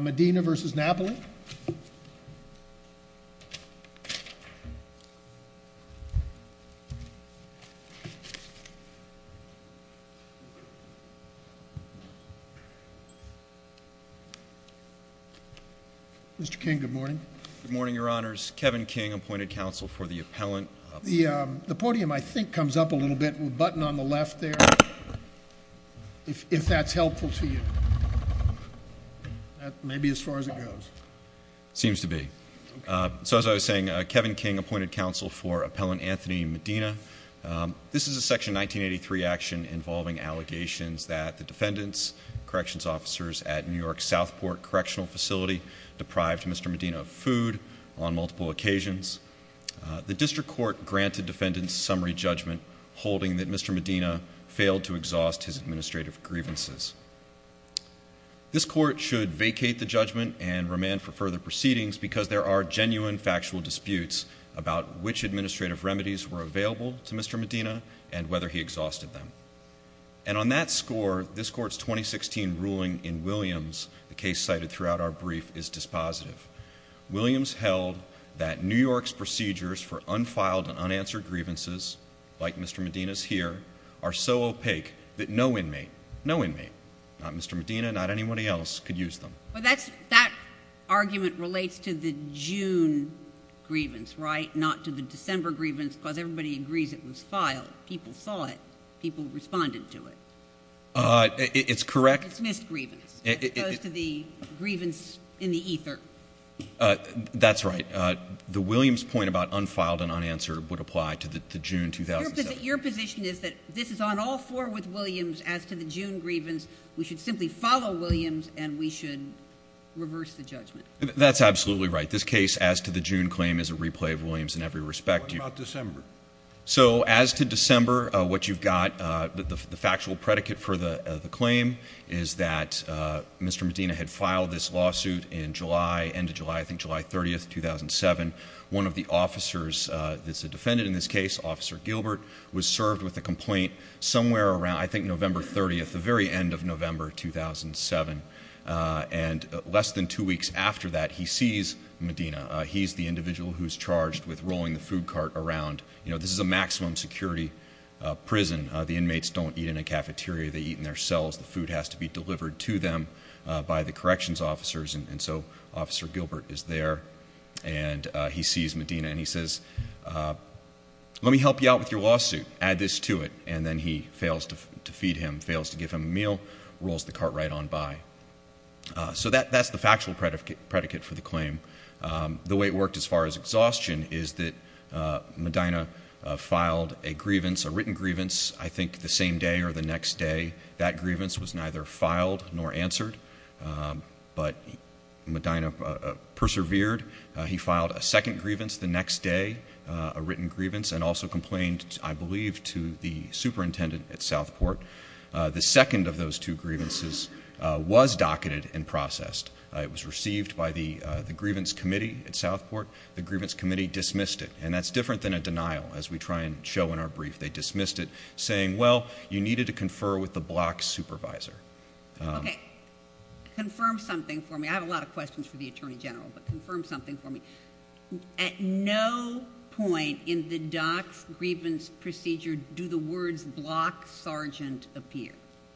Medina v. Napoli Mr. King, good morning. Good morning, your honors. Kevin King, appointed counsel for the appellant. The podium, I think, comes up a little bit with a button on the left there, if that's helpful to you. That may be as far as it goes. Seems to be. So, as I was saying, Kevin King appointed counsel for appellant Anthony Medina. This is a Section 1983 action involving allegations that the defendants, corrections officers, at New York's Southport Correctional Facility deprived Mr. Medina of food on multiple occasions. The district court granted defendants summary judgment holding that Mr. Medina failed to exhaust his administrative grievances. This court should vacate the judgment and remand for further proceedings because there are genuine factual disputes about which administrative remedies were available to Mr. Medina and whether he exhausted them. And on that score, this court's 2016 ruling in Williams, the case cited throughout our brief, is dispositive. Williams held that New York's procedures for unfiled and unanswered grievances, like Mr. Medina's here, are so opaque that no inmate, no inmate, not Mr. Medina, not anybody else, could use them. But that argument relates to the June grievance, right? Not to the December grievance because everybody agrees it was filed. People saw it. People responded to it. It's correct. It's missed grievance. It goes to the grievance in the ether. That's right. The Williams point about unfiled and unanswered would apply to the June 2007. But your position is that this is on all four with Williams as to the June grievance. We should simply follow Williams and we should reverse the judgment. That's absolutely right. This case as to the June claim is a replay of Williams in every respect. What about December? So as to December, what you've got, the factual predicate for the claim is that Mr. Medina had filed this lawsuit in July, end of July, I think July 30, 2007. One of the officers that's a defendant in this case, Officer Gilbert, was served with a complaint somewhere around I think November 30th, the very end of November 2007. And less than two weeks after that, he sees Medina. He's the individual who's charged with rolling the food cart around. This is a maximum security prison. The inmates don't eat in a cafeteria. They eat in their cells. The food has to be delivered to them by the corrections officers. And so Officer Gilbert is there. And he sees Medina and he says, let me help you out with your lawsuit. Add this to it. And then he fails to feed him, fails to give him a meal, rolls the cart right on by. So that's the factual predicate for the claim. The way it worked as far as exhaustion is that Medina filed a grievance, a written grievance, I think the same day or the next day. That grievance was neither filed nor answered. But Medina persevered. He filed a second grievance the next day, a written grievance, and also complained, I believe, to the superintendent at Southport. The second of those two grievances was docketed and processed. It was received by the grievance committee at Southport. The grievance committee dismissed it. And that's different than a denial, as we try and show in our brief. They dismissed it, saying, well, you needed to confer with the block supervisor. Okay. Confirm something for me. I have a lot of questions for the attorney general, but confirm something for me. At no point in the dock grievance procedure do the words block sergeant appear.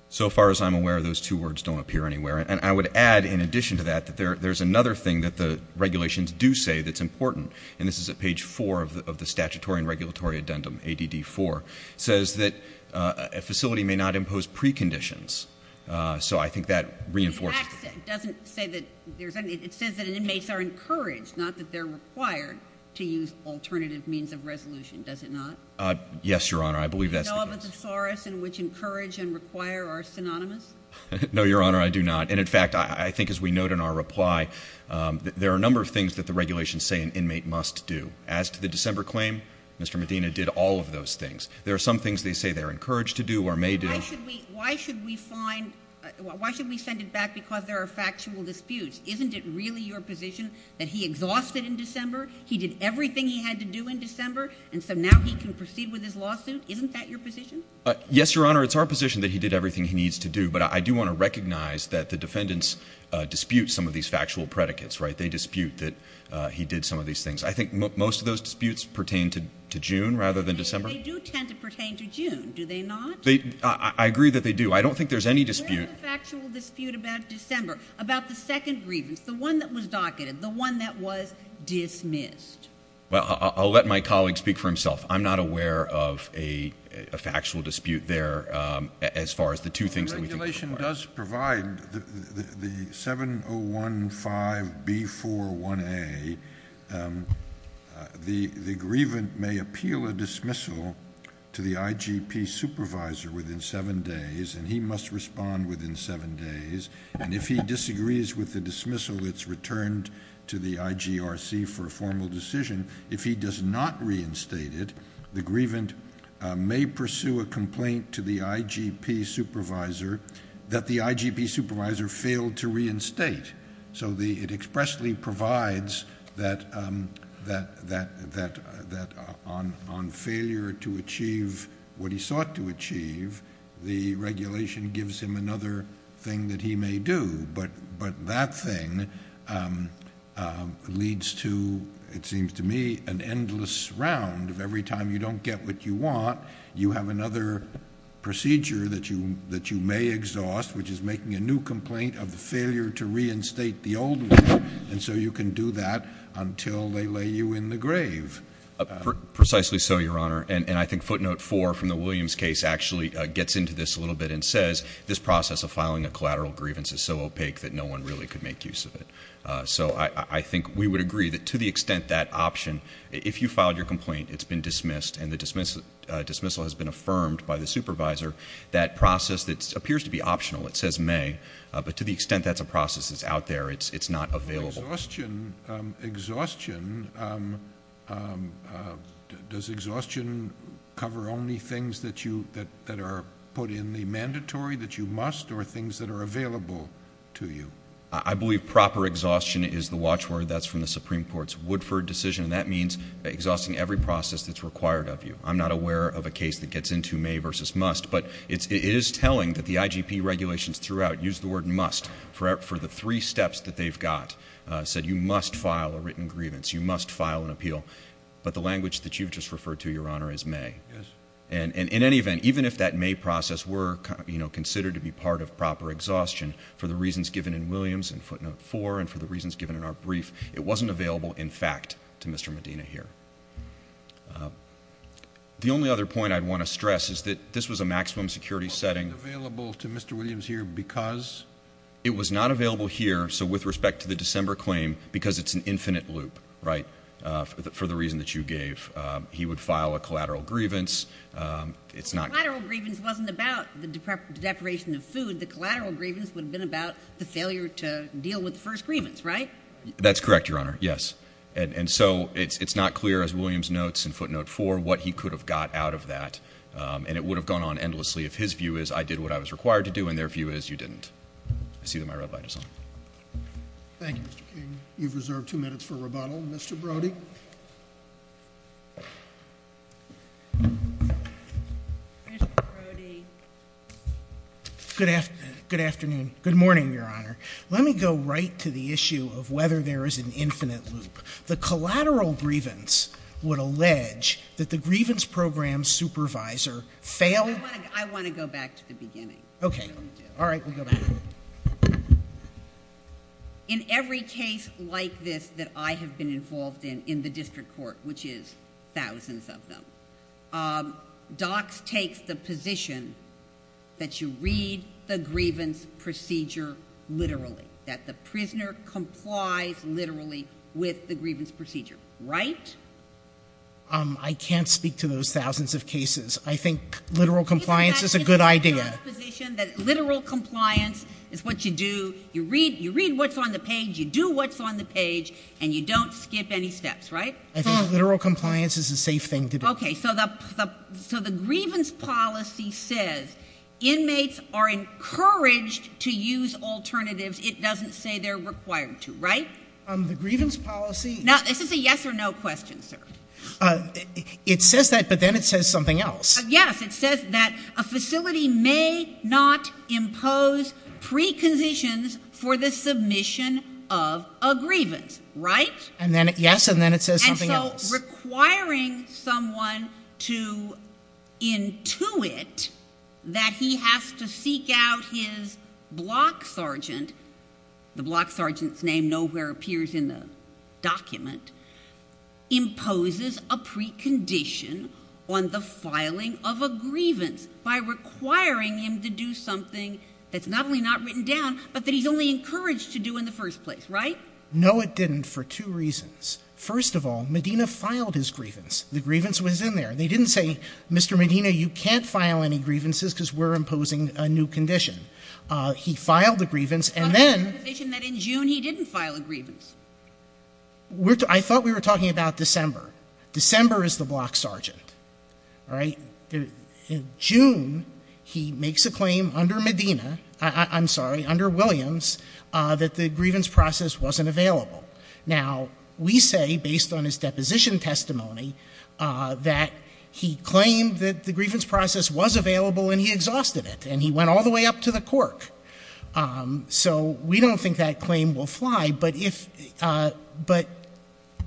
So far as I'm aware, those two words don't appear anywhere. And I would add, in addition to that, that there's another thing that the regulations do say that's important. And this is at page four of the statutory and regulatory addendum, ADD4. It says that a facility may not impose preconditions. So I think that reinforces the point. It doesn't say that there's anything. It says that inmates are encouraged, not that they're required to use alternative means of resolution. Does it not? Yes, Your Honor. I believe that's the case. And all the thesaurus in which encourage and require are synonymous? No, Your Honor, I do not. And, in fact, I think as we note in our reply, there are a number of things that the regulations say an inmate must do. As to the December claim, Mr. Medina did all of those things. There are some things they say they're encouraged to do or may do. Why should we send it back because there are factual disputes? Isn't it really your position that he exhausted in December? He did everything he had to do in December, and so now he can proceed with his lawsuit? Isn't that your position? Yes, Your Honor, it's our position that he did everything he needs to do. But I do want to recognize that the defendants dispute some of these factual predicates, right? They dispute that he did some of these things. I think most of those disputes pertain to June rather than December. They do tend to pertain to June, do they not? I agree that they do. I don't think there's any dispute. Where's the factual dispute about December, about the second grievance, the one that was docketed, the one that was dismissed? Well, I'll let my colleague speak for himself. I'm not aware of a factual dispute there as far as the two things that we think require. The regulation does provide the 7015B41A. The grievant may appeal a dismissal to the IGP supervisor within seven days, and he must respond within seven days. And if he disagrees with the dismissal, it's returned to the IGRC for a formal decision. If he does not reinstate it, the grievant may pursue a complaint to the IGP supervisor that the IGP supervisor failed to reinstate. So it expressly provides that on failure to achieve what he sought to achieve, the regulation gives him another thing that he may do. But that thing leads to, it seems to me, an endless round of every time you don't get what you want, you have another procedure that you may exhaust, which is making a new complaint of the failure to reinstate the old one. And so you can do that until they lay you in the grave. Precisely so, Your Honor. And I think footnote four from the Williams case actually gets into this a little bit and says, this process of filing a collateral grievance is so opaque that no one really could make use of it. So I think we would agree that to the extent that option, if you filed your complaint, it's been dismissed, and the dismissal has been affirmed by the supervisor, that process that appears to be optional, it says may, but to the extent that's a process that's out there, it's not available. Exhaustion, does exhaustion cover only things that are put in the mandatory, that you must, or things that are available to you? I believe proper exhaustion is the watchword. That's from the Supreme Court's Woodford decision, and that means exhausting every process that's required of you. I'm not aware of a case that gets into may versus must, but it is telling that the IGP regulations throughout use the word must for the three steps that they've got, said you must file a written grievance, you must file an appeal. But the language that you've just referred to, Your Honor, is may. And in any event, even if that may process were considered to be part of proper exhaustion, for the reasons given in Williams in footnote four and for the reasons given in our brief, it wasn't available, in fact, to Mr. Medina here. The only other point I'd want to stress is that this was a maximum security setting. It wasn't available to Mr. Williams here because? It was not available here, so with respect to the December claim, because it's an infinite loop, right, for the reason that you gave. He would file a collateral grievance. Collateral grievance wasn't about the deprivation of food. The collateral grievance would have been about the failure to deal with the first grievance, right? That's correct, Your Honor, yes. And so it's not clear, as Williams notes in footnote four, what he could have got out of that, and it would have gone on endlessly if his view is I did what I was required to do and their view is you didn't. I see that my red light is on. Thank you, Mr. King. You've reserved two minutes for rebuttal. Mr. Brody? Mr. Brody? Good afternoon. Good morning, Your Honor. Let me go right to the issue of whether there is an infinite loop. The collateral grievance would allege that the grievance program supervisor failed? I want to go back to the beginning. Okay. All right, we'll go back. In every case like this that I have been involved in in the district court, which is thousands of them, DOCS takes the position that you read the grievance procedure literally, that the prisoner complies literally with the grievance procedure, right? I can't speak to those thousands of cases. I think literal compliance is a good idea. DOCS takes the position that literal compliance is what you do. You read what's on the page, you do what's on the page, and you don't skip any steps, right? I think literal compliance is a safe thing to do. Okay. So the grievance policy says inmates are encouraged to use alternatives. It doesn't say they're required to, right? The grievance policy — Now, this is a yes or no question, sir. It says that, but then it says something else. Yes. It says that a facility may not impose preconditions for the submission of a grievance, right? Yes, and then it says something else. Requiring someone to intuit that he has to seek out his block sergeant — the block sergeant's name nowhere appears in the document — imposes a precondition on the filing of a grievance by requiring him to do something that's not only not written down, but that he's only encouraged to do in the first place, right? No, it didn't, for two reasons. First of all, Medina filed his grievance. The grievance was in there. They didn't say, Mr. Medina, you can't file any grievances because we're imposing a new condition. He filed the grievance, and then — But there's a provision that in June he didn't file a grievance. I thought we were talking about December. December is the block sergeant, all right? In June, he makes a claim under Medina — I'm sorry, under Williams — that the grievance process wasn't available. Now, we say, based on his deposition testimony, that he claimed that the grievance process was available and he exhausted it, and he went all the way up to the cork. So we don't think that claim will fly, but if — but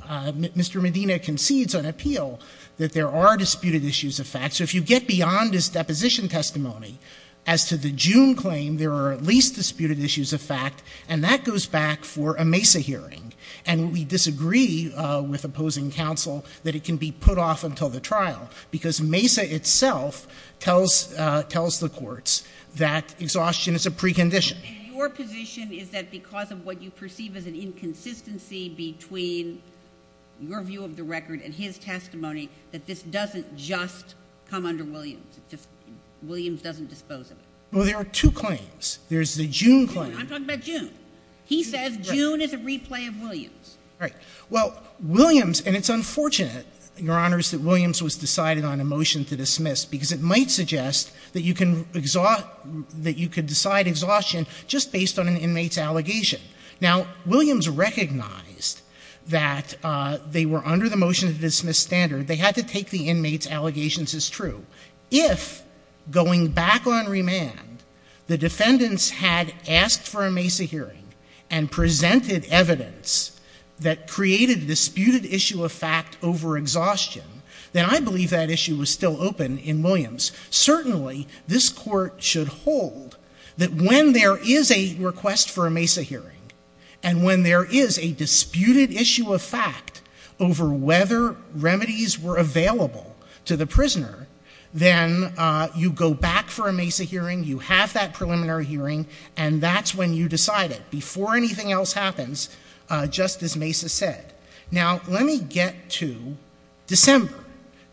Mr. Medina concedes on appeal that there are disputed issues of fact. So if you get beyond his deposition testimony as to the June claim, there are at least disputed issues of fact, and that goes back for a MESA hearing. And we disagree with opposing counsel that it can be put off until the trial, because MESA itself tells the courts that exhaustion is a precondition. And your position is that because of what you perceive as an inconsistency between your view of the record and his testimony, that this doesn't just come under Williams? Williams doesn't dispose of it? Well, there are two claims. There's the June claim. I'm talking about June. He says June is a replay of Williams. Right. Well, Williams — and it's unfortunate, Your Honors, that Williams was decided on a motion to dismiss, because it might suggest that you can — that you could decide exhaustion just based on an inmate's allegation. Now, Williams recognized that they were under the motion-to-dismiss standard. They had to take the inmate's allegations as true. If, going back on remand, the defendants had asked for a MESA hearing and presented evidence that created a disputed issue of fact over exhaustion, then I believe that issue was still open in Williams. Certainly, this Court should hold that when there is a request for a MESA hearing and when there is a disputed issue of fact over whether remedies were available to the prisoner, then you go back for a MESA hearing, you have that preliminary hearing, and that's when you decide it, before anything else happens, just as MESA said. Now, let me get to December.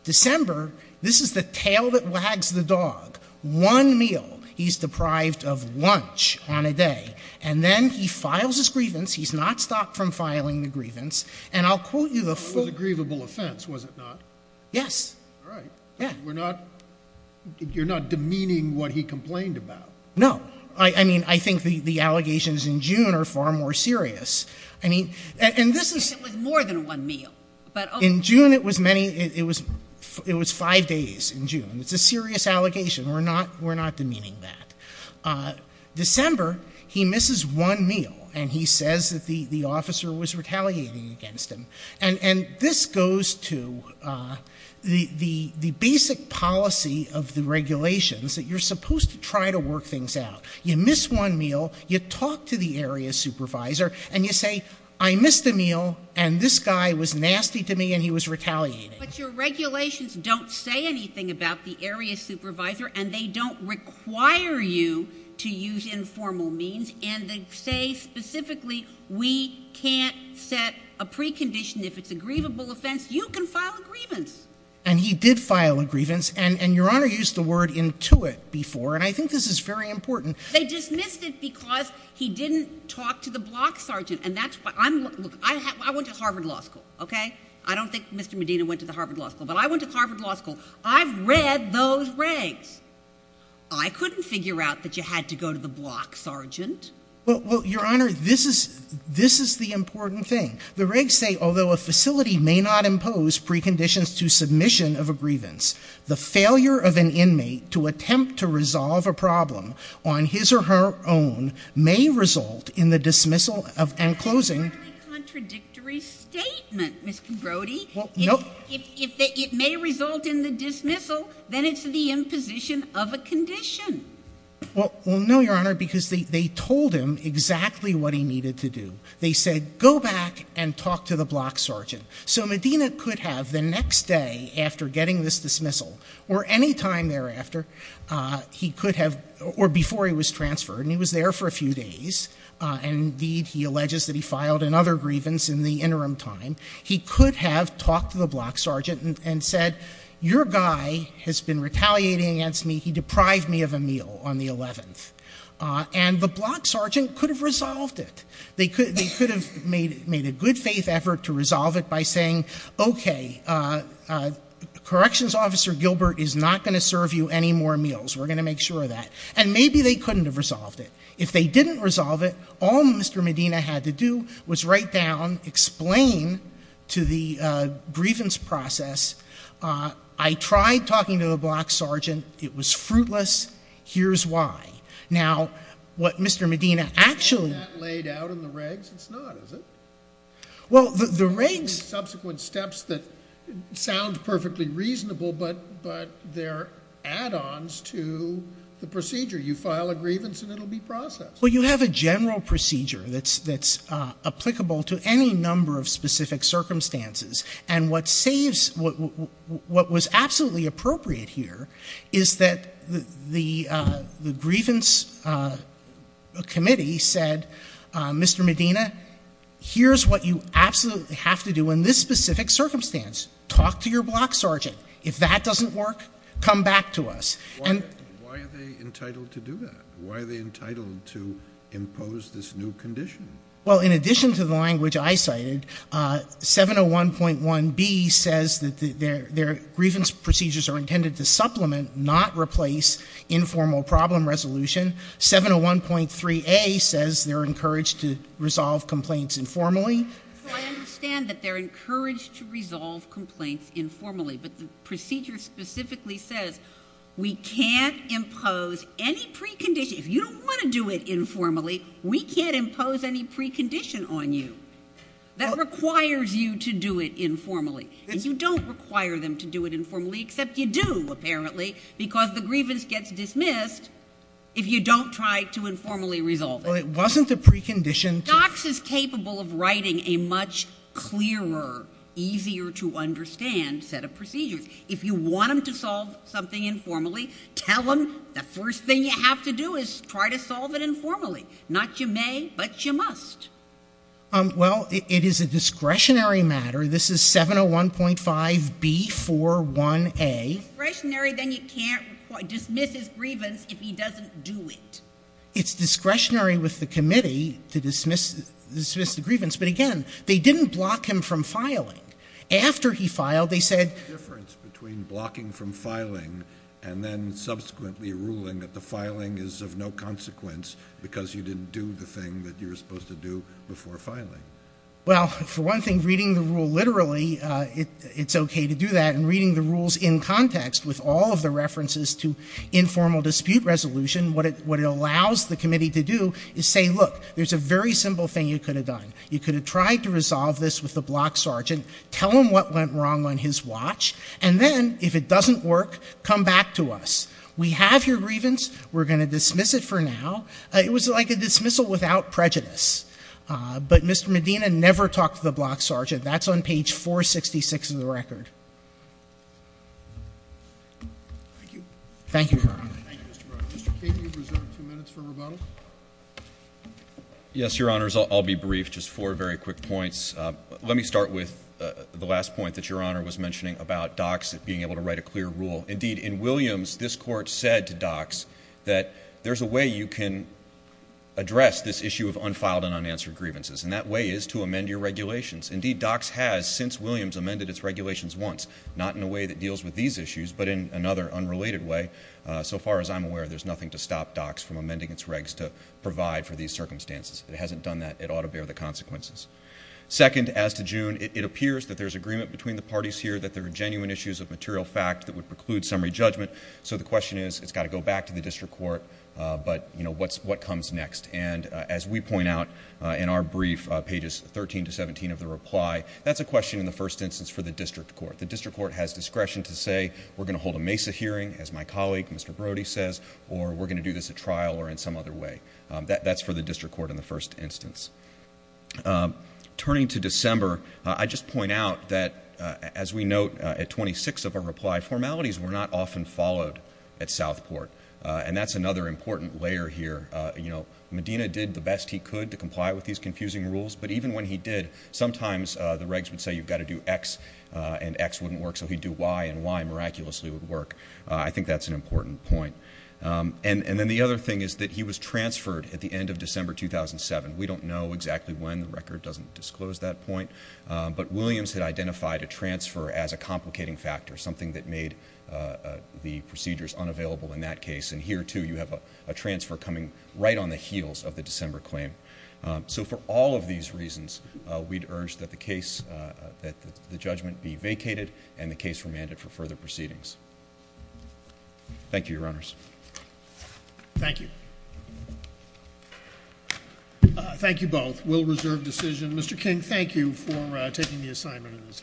December, this is the tail that wags the dog. One meal, he's deprived of lunch on a day. And then he files his grievance. He's not stopped from filing the grievance. And I'll quote you the full — It was a grievable offense, was it not? Yes. All right. Yeah. We're not — you're not demeaning what he complained about? No. I mean, I think the allegations in June are far more serious. I mean — I think it was more than one meal. In June, it was many — it was five days in June. It's a serious allegation. We're not demeaning that. December, he misses one meal, and he says that the officer was retaliating against him. And this goes to the basic policy of the regulations, that you're supposed to try to work things out. You miss one meal, you talk to the area supervisor, and you say, I missed a meal, and this guy was nasty to me, and he was retaliating. But your regulations don't say anything about the area supervisor, and they don't require you to use informal means. And they say specifically we can't set a precondition if it's a grievable offense. You can file a grievance. And he did file a grievance, and Your Honor used the word intuit before, and I think this is very important. They dismissed it because he didn't talk to the block sergeant. And that's why — look, I went to Harvard Law School, OK? I don't think Mr. Medina went to the Harvard Law School, but I went to Harvard Law School. I've read those regs. I couldn't figure out that you had to go to the block sergeant. Well, Your Honor, this is the important thing. The regs say, although a facility may not impose preconditions to submission of a grievance, the failure of an inmate to attempt to resolve a problem on his or her own may result in the dismissal and closing — That's a very contradictory statement, Mr. Brody. Well, no — If it may result in the dismissal, then it's the imposition of a condition. Well, no, Your Honor, because they told him exactly what he needed to do. They said, go back and talk to the block sergeant. So Medina could have, the next day after getting this dismissal, or any time thereafter, he could have — or before he was transferred, and he was there for a few days, and indeed he alleges that he filed another grievance in the interim time, he could have talked to the block sergeant and said, your guy has been retaliating against me. He deprived me of a meal on the 11th. And the block sergeant could have resolved it. They could have made a good-faith effort to resolve it by saying, okay, Corrections Officer Gilbert is not going to serve you any more meals. We're going to make sure of that. And maybe they couldn't have resolved it. If they didn't resolve it, all Mr. Medina had to do was write down, explain to the grievance process, I tried talking to the block sergeant. It was fruitless. Here's why. Now, what Mr. Medina actually — Isn't that laid out in the regs? It's not, is it? Well, the regs — Subsequent steps that sound perfectly reasonable, but they're add-ons to the procedure. You file a grievance and it will be processed. Well, you have a general procedure that's applicable to any number of specific circumstances. And what was absolutely appropriate here is that the grievance committee said, Mr. Medina, here's what you absolutely have to do in this specific circumstance. Talk to your block sergeant. If that doesn't work, come back to us. Why are they entitled to do that? Why are they entitled to impose this new condition? Well, in addition to the language I cited, 701.1b says that their grievance procedures are intended to supplement, not replace, informal problem resolution. 701.3a says they're encouraged to resolve complaints informally. So I understand that they're encouraged to resolve complaints informally, but the procedure specifically says we can't impose any precondition. If you don't want to do it informally, we can't impose any precondition on you. That requires you to do it informally. And you don't require them to do it informally, except you do, apparently, because the grievance gets dismissed if you don't try to informally resolve it. Well, it wasn't a precondition to — easier to understand set of procedures. If you want them to solve something informally, tell them the first thing you have to do is try to solve it informally. Not you may, but you must. Well, it is a discretionary matter. This is 701.5b41a. Discretionary, then you can't dismiss his grievance if he doesn't do it. It's discretionary with the committee to dismiss the grievance. But, again, they didn't block him from filing. After he filed, they said — The difference between blocking from filing and then subsequently ruling that the filing is of no consequence because you didn't do the thing that you were supposed to do before filing. Well, for one thing, reading the rule literally, it's okay to do that. And reading the rules in context with all of the references to informal dispute resolution, what it allows the committee to do is say, look, there's a very simple thing you could have done. You could have tried to resolve this with the block sergeant. Tell him what went wrong on his watch. And then, if it doesn't work, come back to us. We have your grievance. We're going to dismiss it for now. It was like a dismissal without prejudice. But Mr. Medina never talked to the block sergeant. That's on page 466 of the record. Thank you. Thank you, Your Honor. Thank you, Mr. Brown. Mr. Kagan, you have reserved two minutes for rebuttal. Yes, Your Honors, I'll be brief. Just four very quick points. Let me start with the last point that Your Honor was mentioning about DOCS being able to write a clear rule. Indeed, in Williams, this court said to DOCS that there's a way you can address this issue of unfiled and unanswered grievances, and that way is to amend your regulations. Indeed, DOCS has, since Williams, amended its regulations once, not in a way that deals with these issues but in another unrelated way. So far as I'm aware, there's nothing to stop DOCS from amending its regs to provide for these circumstances. It hasn't done that. It ought to bear the consequences. Second, as to June, it appears that there's agreement between the parties here that there are genuine issues of material fact that would preclude summary judgment. So the question is, it's got to go back to the district court, but, you know, what comes next? And as we point out in our brief, pages 13 to 17 of the reply, that's a question in the first instance for the district court. The district court has discretion to say we're going to hold a MESA hearing, as my colleague Mr. Brody says, or we're going to do this at trial or in some other way. That's for the district court in the first instance. Turning to December, I just point out that, as we note at 26 of our reply, formalities were not often followed at Southport, and that's another important layer here. You know, Medina did the best he could to comply with these confusing rules, but even when he did, sometimes the regs would say you've got to do X and X wouldn't work, so he'd do Y and Y miraculously would work. I think that's an important point. And then the other thing is that he was transferred at the end of December 2007. We don't know exactly when. The record doesn't disclose that point. But Williams had identified a transfer as a complicating factor, something that made the procedures unavailable in that case. And here, too, you have a transfer coming right on the heels of the December claim. So for all of these reasons, we'd urge that the case, that the judgment be vacated and the case remanded for further proceedings. Thank you, Your Honors. Thank you. Thank you both. We'll reserve decision. Mr. King, thank you for taking the assignment in this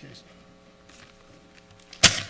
case.